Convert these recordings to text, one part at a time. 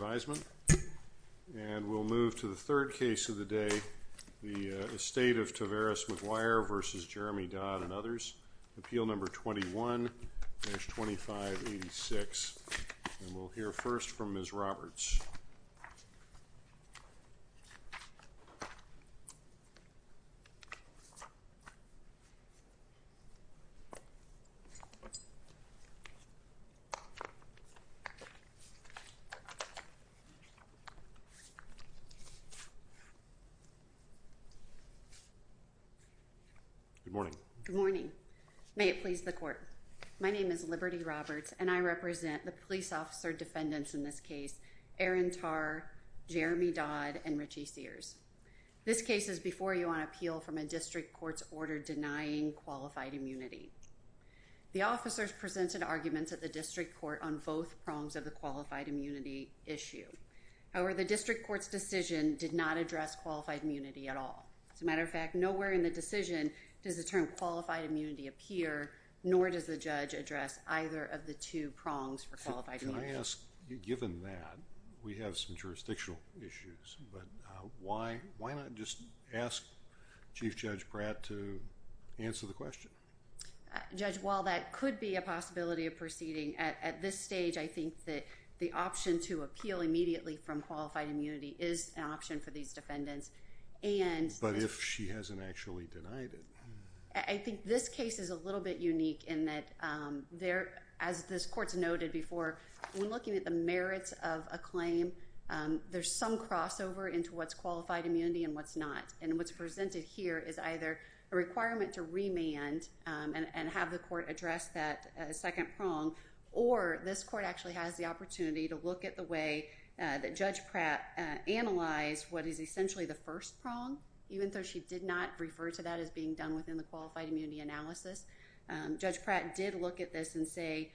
And we'll move to the third case of the day, the estate of Tavaris McGuire v. Jeramie Dodd and others, Good morning. Good morning. May it please the court. My name is Liberty Roberts and I represent the police officer defendants in this case, Aaron Tarr, Jeramie Dodd and Richie Sears. This case is before you on appeal from a district court's order denying qualified immunity. The officers presented arguments at the district court on both prongs of the qualified immunity issue. However, the district court's decision did not address qualified immunity at all. As a matter of fact, nowhere in the decision does the term qualified immunity appear, nor does the judge address either of the two prongs for qualified immunity. Can I ask, given that we have some jurisdictional issues, but why not just ask Chief Judge Pratt to answer the question? Judge, while that could be a possibility of proceeding at this stage, I think that the option to appeal immediately from qualified immunity is an option for these defendants. But if she hasn't actually denied it? I think this case is a little bit unique in that there, as this court's noted before, when looking at the merits of a claim, there's some crossover into what's qualified immunity and what's not. And what's presented here is either a requirement to remand and have the court address that second prong, or this court actually has the opportunity to look at the way that Judge Pratt analyzed what is essentially the first prong. Even though she did not refer to that as being done within the qualified immunity analysis, Judge Pratt did look at this and say,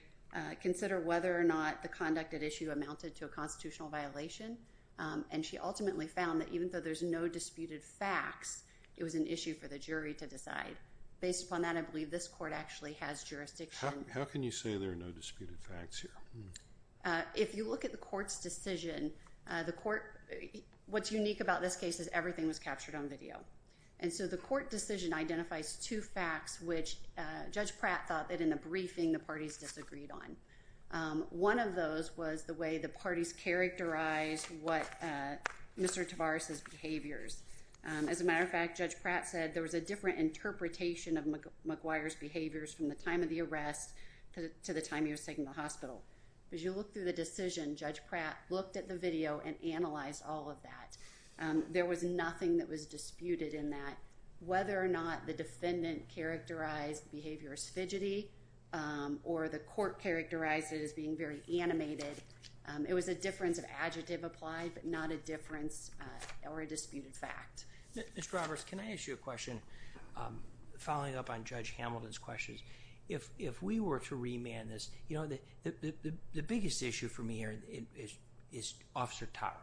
consider whether or not the conducted issue amounted to a constitutional violation. And she ultimately found that even though there's no disputed facts, it was an issue for the jury to decide. Based upon that, I believe this court actually has jurisdiction. How can you say there are no disputed facts here? If you look at the court's decision, what's unique about this case is everything was captured on video. And so the court decision identifies two facts which Judge Pratt thought that in the briefing the parties disagreed on. One of those was the way the parties characterized Mr. Tavares' behaviors. As a matter of fact, Judge Pratt said there was a different interpretation of McGuire's behaviors from the time of the arrest to the time he was taken to the hospital. As you look through the decision, Judge Pratt looked at the video and analyzed all of that. There was nothing that was disputed in that. Whether or not the defendant characterized the behavior as fidgety or the court characterized it as being very animated, it was a difference of adjective applied but not a difference or a disputed fact. Mr. Roberts, can I ask you a question following up on Judge Hamilton's questions? If we were to remand this, you know, the biggest issue for me here is Officer Tara.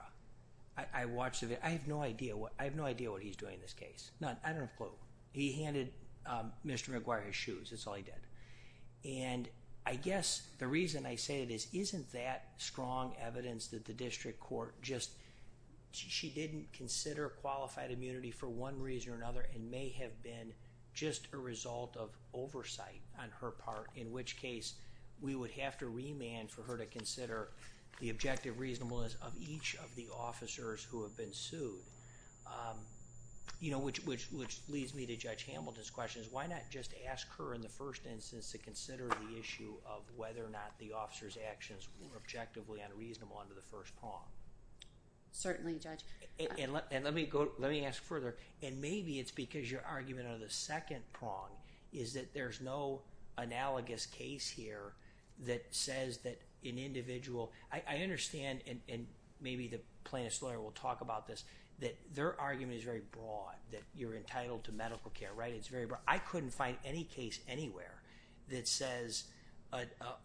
I watched the video. I have no idea what he's doing in this case. None. I don't have a clue. He handed Mr. McGuire his shoes. That's all he did. And I guess the reason I say this isn't that strong evidence that the district court just, she didn't consider qualified immunity for one reason or another and may have been just a result of oversight on her part, in which case we would have to remand for her to consider the objective reasonableness of each of the officers who have been sued. You know, which leads me to Judge Hamilton's questions. Why not just ask her in the first instance to consider the issue of whether or not the officer's actions were objectively unreasonable under the first prong? Certainly, Judge. And let me go, let me ask further. And maybe it's because your argument under the second prong is that there's no analogous case here that says that an individual, I understand, and maybe the plaintiff's lawyer will talk about this, that their argument is very broad, that you're entitled to medical care, right? It's very broad. I couldn't find any case anywhere that says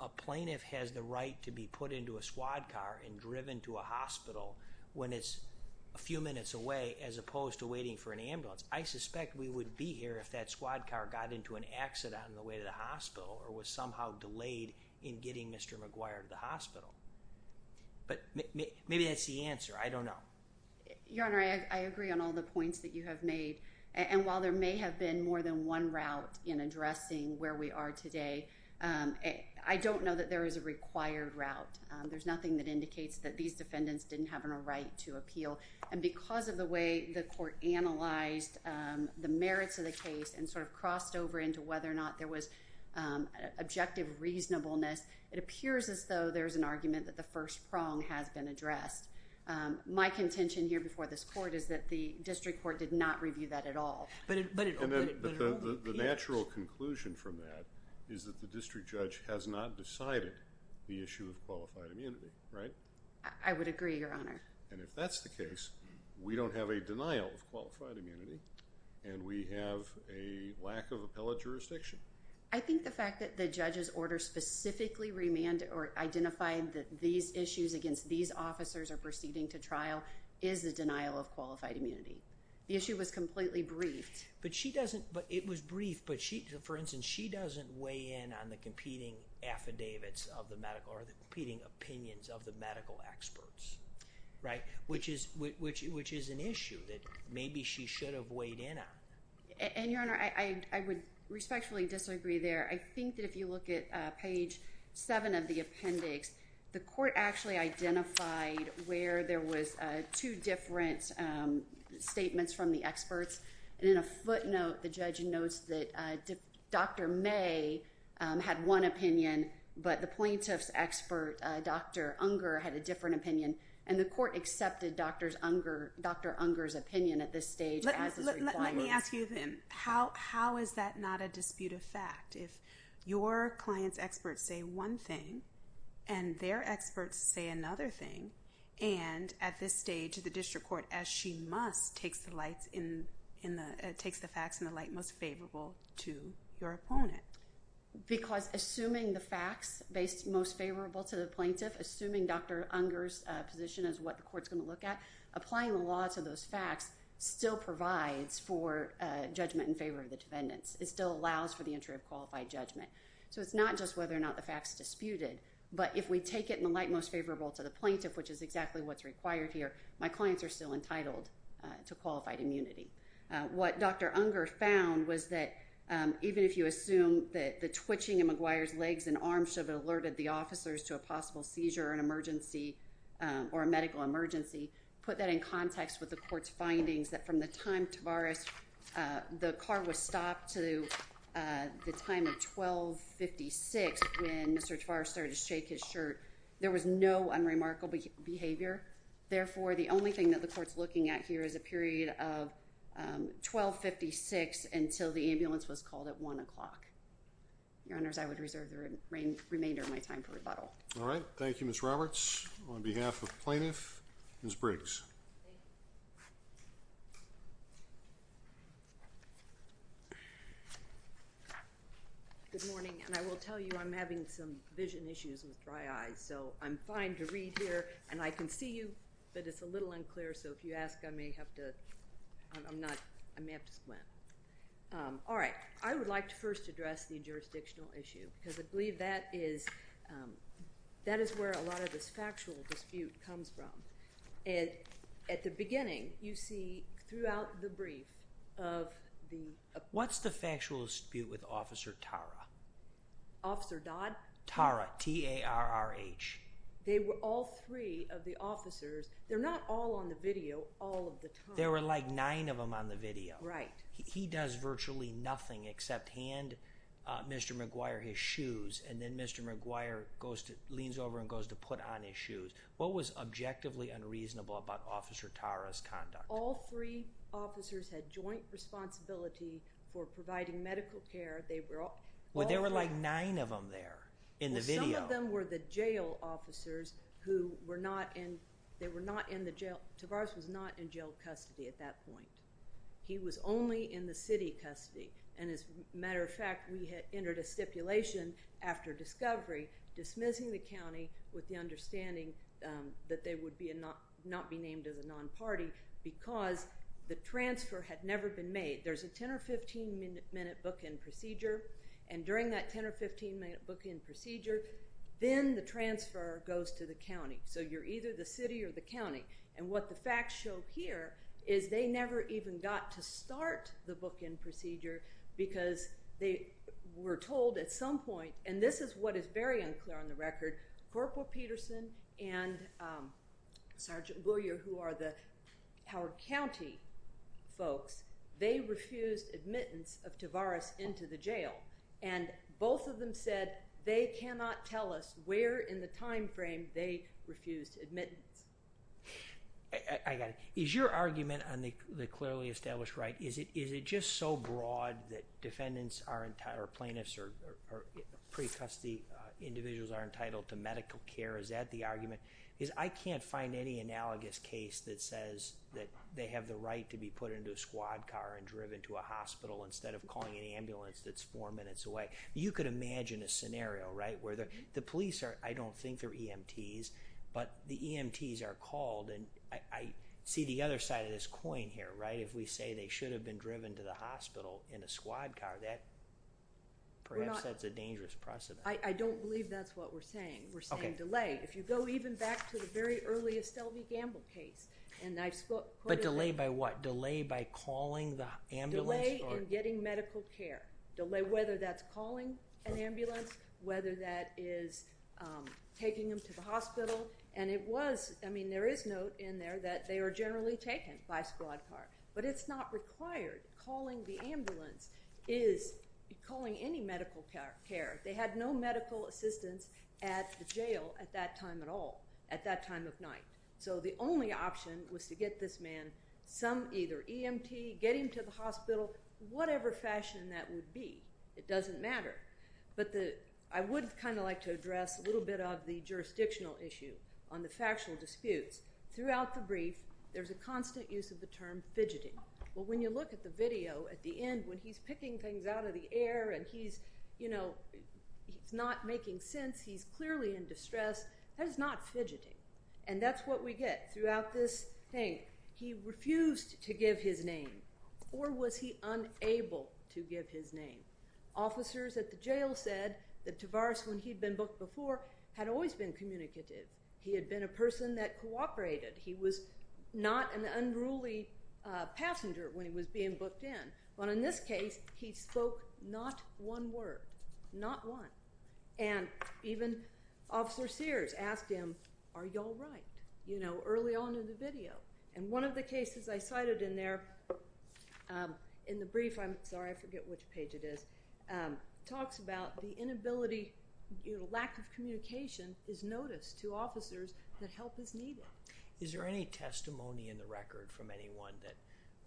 a plaintiff has the right to be put into a squad car and driven to a hospital when it's a few minutes away as opposed to waiting for an ambulance. I suspect we would be here if that squad car got into an accident on the way to the hospital or was somehow delayed in getting Mr. McGuire to the hospital. But maybe that's the answer. I don't know. Your Honor, I agree on all the points that you have made. And while there may have been more than one route in addressing where we are today, I don't know that there is a required route. There's nothing that indicates that these defendants didn't have a right to appeal. And because of the way the court analyzed the merits of the case and sort of crossed over into whether or not there was objective reasonableness, it appears as though there's an argument that the first prong has been addressed. My contention here before this court is that the district court did not review that at all. But it all appears— The natural conclusion from that is that the district judge has not decided the issue of qualified immunity, right? I would agree, Your Honor. And if that's the case, we don't have a denial of qualified immunity, and we have a lack of appellate jurisdiction. I think the fact that the judge's order specifically remanded or identified that these issues against these officers are proceeding to trial is a denial of qualified immunity. The issue was completely briefed. But she doesn't—but it was briefed, but she—for instance, she doesn't weigh in on the competing affidavits of the medical or the competing opinions of the medical experts. Right? Which is an issue that maybe she should have weighed in on. And, Your Honor, I would respectfully disagree there. I think that if you look at page 7 of the appendix, the court actually identified where there was two different statements from the experts. And in a footnote, the judge notes that Dr. May had one opinion, but the plaintiff's expert, Dr. Unger, had a different opinion. And the court accepted Dr. Unger's opinion at this stage as is required. Let me ask you then, how is that not a disputed fact? If your client's experts say one thing and their experts say another thing, and at this stage the district court, as she must, takes the facts in the light most favorable to your opponent? Because assuming the facts most favorable to the plaintiff, assuming Dr. Unger's position is what the court's going to look at, applying the law to those facts still provides for judgment in favor of the defendants. It still allows for the entry of qualified judgment. So it's not just whether or not the fact's disputed, but if we take it in the light most favorable to the plaintiff, which is exactly what's required here, my clients are still entitled to qualified immunity. What Dr. Unger found was that even if you assume that the twitching of McGuire's legs and arms should have alerted the officers to a possible seizure or an emergency, put that in context with the court's findings that from the time Tavares, the car was stopped to the time of 12.56 when Mr. Tavares started to shake his shirt, there was no unremarkable behavior. Therefore, the only thing that the court's looking at here is a period of 12.56 until the ambulance was called at 1 o'clock. Your Honors, I would reserve the remainder of my time for rebuttal. All right. Thank you, Ms. Roberts. On behalf of plaintiff, Ms. Briggs. Good morning, and I will tell you I'm having some vision issues with dry eyes, so I'm fine to read here, and I can see you, but it's a little unclear, so if you ask, I may have to squint. All right. I would like to first address the jurisdictional issue because I believe that is where a lot of this factual dispute comes from. At the beginning, you see throughout the brief of the… What's the factual dispute with Officer Tara? Officer Dodd? Tara, T-A-R-R-H. They were all three of the officers. They're not all on the video all of the time. There were like nine of them on the video. Right. He does virtually nothing except hand Mr. McGuire his shoes, and then Mr. McGuire leans over and goes to put on his shoes. What was objectively unreasonable about Officer Tara's conduct? All three officers had joint responsibility for providing medical care. Well, there were like nine of them there in the video. Some of them were the jail officers who were not in the jail. Tavares was not in jail custody at that point. He was only in the city custody, and as a matter of fact, we had entered a stipulation after discovery dismissing the county with the understanding that they would not be named as a non-party because the transfer had never been made. There's a 10- or 15-minute bookend procedure, and during that 10- or 15-minute bookend procedure, then the transfer goes to the county. So you're either the city or the county, and what the facts show here is they never even got to start the bookend procedure because they were told at some point, and this is what is very unclear on the record. Corporal Peterson and Sergeant McGuire, who are the Howard County folks, they refused admittance of Tavares into the jail, and both of them said they cannot tell us where in the time frame they refused admittance. I got it. Is your argument on the clearly established right, is it just so broad that defendants or plaintiffs or pre-custody individuals are entitled to medical care? Is that the argument? Because I can't find any analogous case that says that they have the right to be put into a squad car and driven to a hospital instead of calling an ambulance that's four minutes away. You could imagine a scenario, right, where the police are, I don't think they're EMTs, but the EMTs are called, and I see the other side of this coin here, right? If we say they should have been driven to the hospital in a squad car, perhaps that's a dangerous precedent. I don't believe that's what we're saying. We're saying delay. If you go even back to the very early Estelle v. Gamble case, and I've spoken— But delay by what? Delay by calling the ambulance? Delay in getting medical care, whether that's calling an ambulance, whether that is taking them to the hospital. And it was—I mean, there is note in there that they are generally taken by squad car, but it's not required. Calling the ambulance is calling any medical care. They had no medical assistance at the jail at that time at all, at that time of night. So the only option was to get this man some either EMT, get him to the hospital, whatever fashion that would be. It doesn't matter. But I would kind of like to address a little bit of the jurisdictional issue on the factual disputes. Throughout the brief, there's a constant use of the term fidgeting. Well, when you look at the video at the end when he's picking things out of the air and he's not making sense, he's clearly in distress, that is not fidgeting. And that's what we get throughout this thing. He refused to give his name or was he unable to give his name. Officers at the jail said that Tavares, when he'd been booked before, had always been communicative. He had been a person that cooperated. He was not an unruly passenger when he was being booked in. But in this case, he spoke not one word, not one. And even Officer Sears asked him, are you all right, you know, early on in the video. And one of the cases I cited in there in the brief, I'm sorry, I forget which page it is, talks about the inability, lack of communication is noticed to officers that help is needed. Is there any testimony in the record from anyone that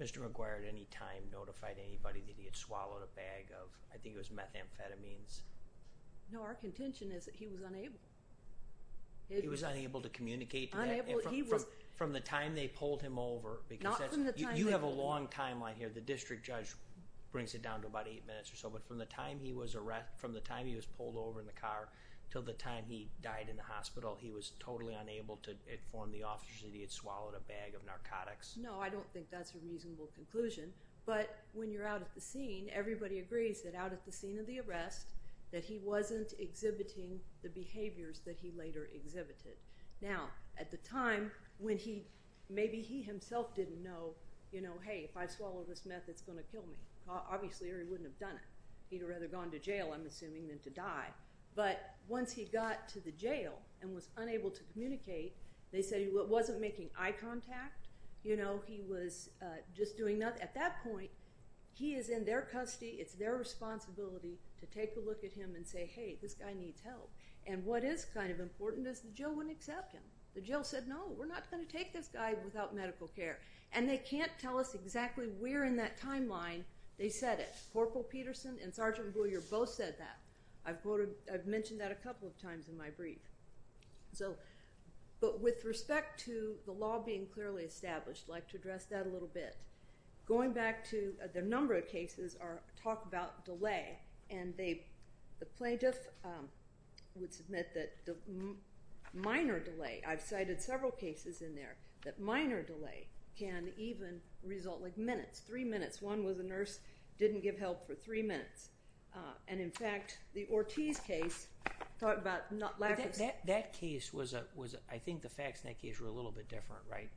Mr. McGuire at any time notified anybody that he had swallowed a bag of, I think it was methamphetamines. No, our contention is that he was unable. He was unable to communicate. Unable, he was. From the time they pulled him over. Not from the time they pulled him over. You have a long timeline here. The district judge brings it down to about eight minutes or so. But from the time he was pulled over in the car until the time he died in the hospital, he was totally unable to inform the officers that he had swallowed a bag of narcotics. No, I don't think that's a reasonable conclusion. But when you're out at the scene, everybody agrees that out at the scene of the arrest, that he wasn't exhibiting the behaviors that he later exhibited. Now, at the time, when he, maybe he himself didn't know, you know, hey, if I swallow this meth, it's going to kill me. Obviously, or he wouldn't have done it. He would have rather gone to jail, I'm assuming, than to die. But once he got to the jail and was unable to communicate, they said he wasn't making eye contact. You know, he was just doing nothing. At that point, he is in their custody. It's their responsibility to take a look at him and say, hey, this guy needs help. And what is kind of important is the jail wouldn't accept him. The jail said, no, we're not going to take this guy without medical care. And they can't tell us exactly where in that timeline they said it. Corporal Peterson and Sergeant Boyer both said that. I've mentioned that a couple of times in my brief. So, but with respect to the law being clearly established, I'd like to address that a little bit. Going back to the number of cases are talk about delay. And they, the plaintiff would submit that the minor delay, I've cited several cases in there, that minor delay can even result like minutes, three minutes. One was a nurse didn't give help for three minutes. And, in fact, the Ortiz case, talk about lack of. That case was, I think the facts in that case were a little bit different, right?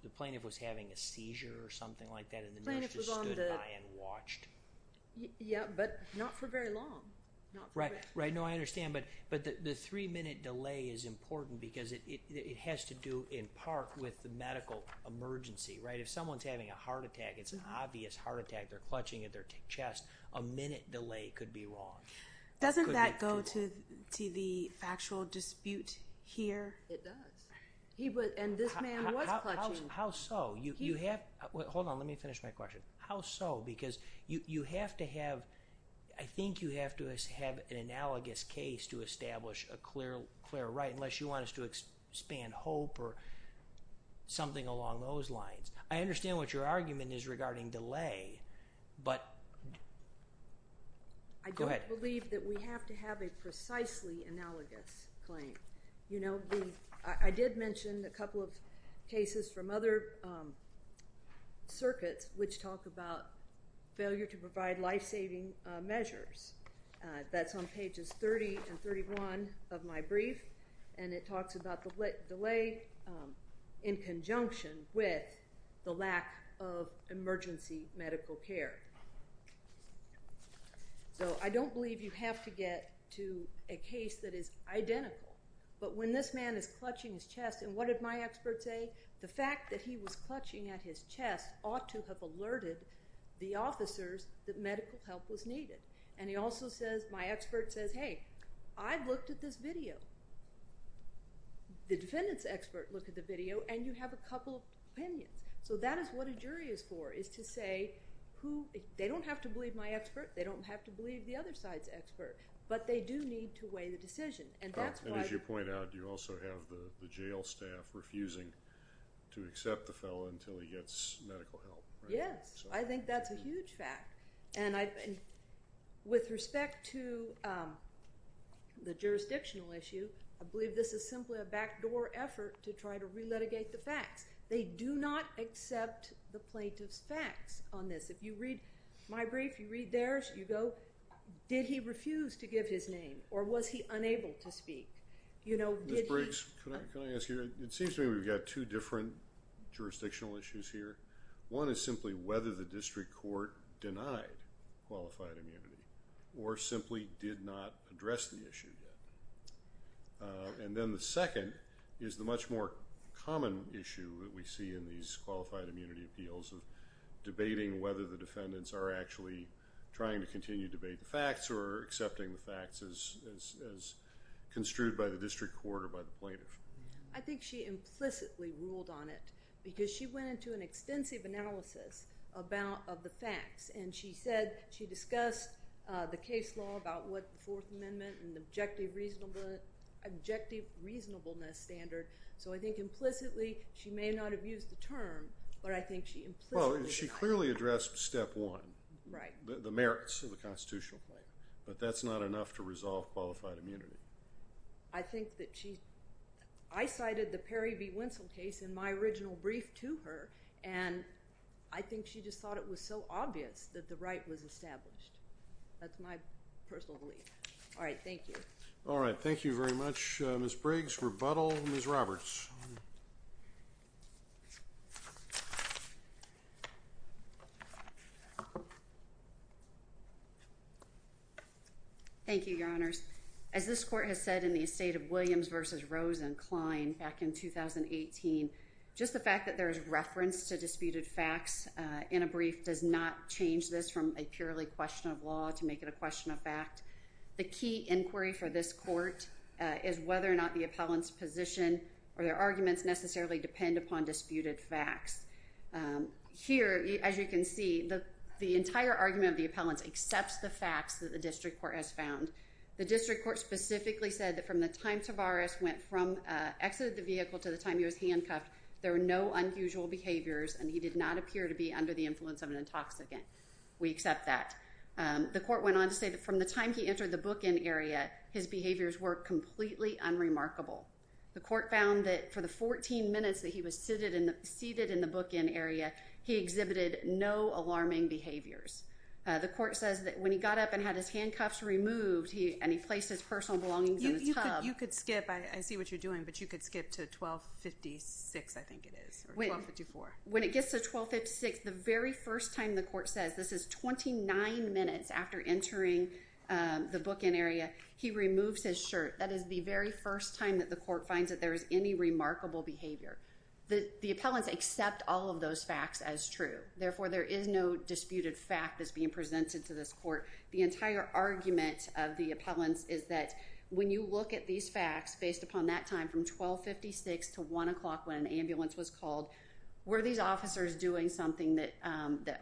The plaintiff was having a seizure or something like that and the nurse just stood by and watched. Yeah, but not for very long. Right, right. No, I understand. But the three-minute delay is important because it has to do in part with the medical emergency, right? If someone's having a heart attack, it's an obvious heart attack. They're clutching at their chest. A minute delay could be wrong. Doesn't that go to the factual dispute here? It does. And this man was clutching. How so? You have, hold on, let me finish my question. How so? Because you have to have, I think you have to have an analogous case to establish a clear right unless you want us to expand hope or something along those lines. I understand what your argument is regarding delay, but go ahead. I don't believe that we have to have a precisely analogous claim. You know, I did mention a couple of cases from other circuits which talk about failure to provide life-saving measures. That's on Pages 30 and 31 of my brief, and it talks about the delay in conjunction with the lack of emergency medical care. So I don't believe you have to get to a case that is identical. But when this man is clutching his chest, and what did my expert say? The fact that he was clutching at his chest ought to have alerted the officers that medical help was needed. And he also says, my expert says, hey, I've looked at this video. The defendant's expert looked at the video, and you have a couple of opinions. So that is what a jury is for, is to say who, they don't have to believe my expert, they don't have to believe the other side's expert, but they do need to weigh the decision. And as you point out, you also have the jail staff refusing to accept the fellow until he gets medical help. Yes, I think that's a huge fact. And with respect to the jurisdictional issue, I believe this is simply a backdoor effort to try to re-litigate the facts. They do not accept the plaintiff's facts on this. If you read my brief, you read theirs, you go, did he refuse to give his name, or was he unable to speak? Ms. Briggs, can I ask you, it seems to me we've got two different jurisdictional issues here. One is simply whether the district court denied qualified immunity or simply did not address the issue yet. And then the second is the much more common issue that we see in these qualified immunity appeals of debating whether the defendants are actually trying to continue to debate the facts or accepting the facts as construed by the district court or by the plaintiff. I think she implicitly ruled on it because she went into an extensive analysis of the facts, and she said she discussed the case law about what the Fourth Amendment and the objective reasonableness standard. So I think implicitly she may not have used the term, but I think she implicitly denied it. Well, she clearly addressed step one, the merits of the constitutional claim, but that's not enough to resolve qualified immunity. I think that she – I cited the Perry v. Winsell case in my original brief to her, and I think she just thought it was so obvious that the right was established. That's my personal belief. All right, thank you. All right, thank you very much, Ms. Briggs. Rebuttal, Ms. Roberts. Thank you, Your Honors. As this court has said in the estate of Williams v. Rosenkline back in 2018, just the fact that there is reference to disputed facts in a brief does not change this from a purely question of law to make it a question of fact. The key inquiry for this court is whether or not the appellant's position or their arguments necessarily depend upon disputed facts. Here, as you can see, the entire argument of the appellant accepts the facts that the district court has found. The district court specifically said that from the time Tavares went from – exited the vehicle to the time he was handcuffed, there were no unusual behaviors, and he did not appear to be under the influence of an intoxicant. We accept that. The court went on to say that from the time he entered the bookend area, his behaviors were completely unremarkable. The court found that for the 14 minutes that he was seated in the bookend area, he exhibited no alarming behaviors. The court says that when he got up and had his handcuffs removed, and he placed his personal belongings in a tub – You could skip. I see what you're doing, but you could skip to 1256, I think it is, or 1254. When it gets to 1256, the very first time, the court says, this is 29 minutes after entering the bookend area, he removes his shirt. That is the very first time that the court finds that there is any remarkable behavior. The appellants accept all of those facts as true. Therefore, there is no disputed fact that's being presented to this court. The entire argument of the appellants is that when you look at these facts, based upon that time from 1256 to 1 o'clock when an ambulance was called, were these officers doing something that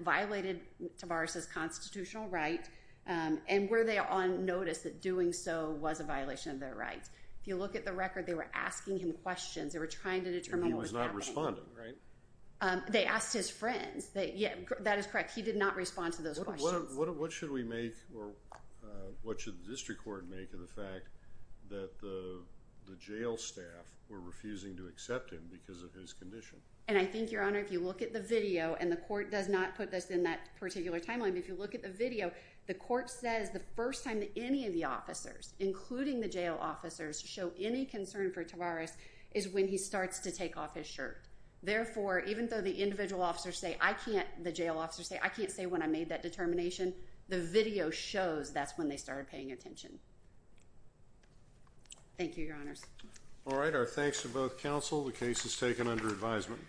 violated Tavares' constitutional right, and were they on notice that doing so was a violation of their rights? If you look at the record, they were asking him questions. They were trying to determine what was happening. And he was not responding, right? They asked his friends. That is correct. He did not respond to those questions. What should we make or what should the district court make of the fact that the jail staff were refusing to accept him because of his condition? And I think, Your Honor, if you look at the video, and the court does not put this in that particular timeline, but if you look at the video, the court says the first time that any of the officers, including the jail officers, show any concern for Tavares is when he starts to take off his shirt. Therefore, even though the individual officers say, I can't, the jail officers say, I can't say when I made that determination, the video shows that's when they started paying attention. Thank you, Your Honors. All right. Our thanks to both counsel. The case is taken under advisement.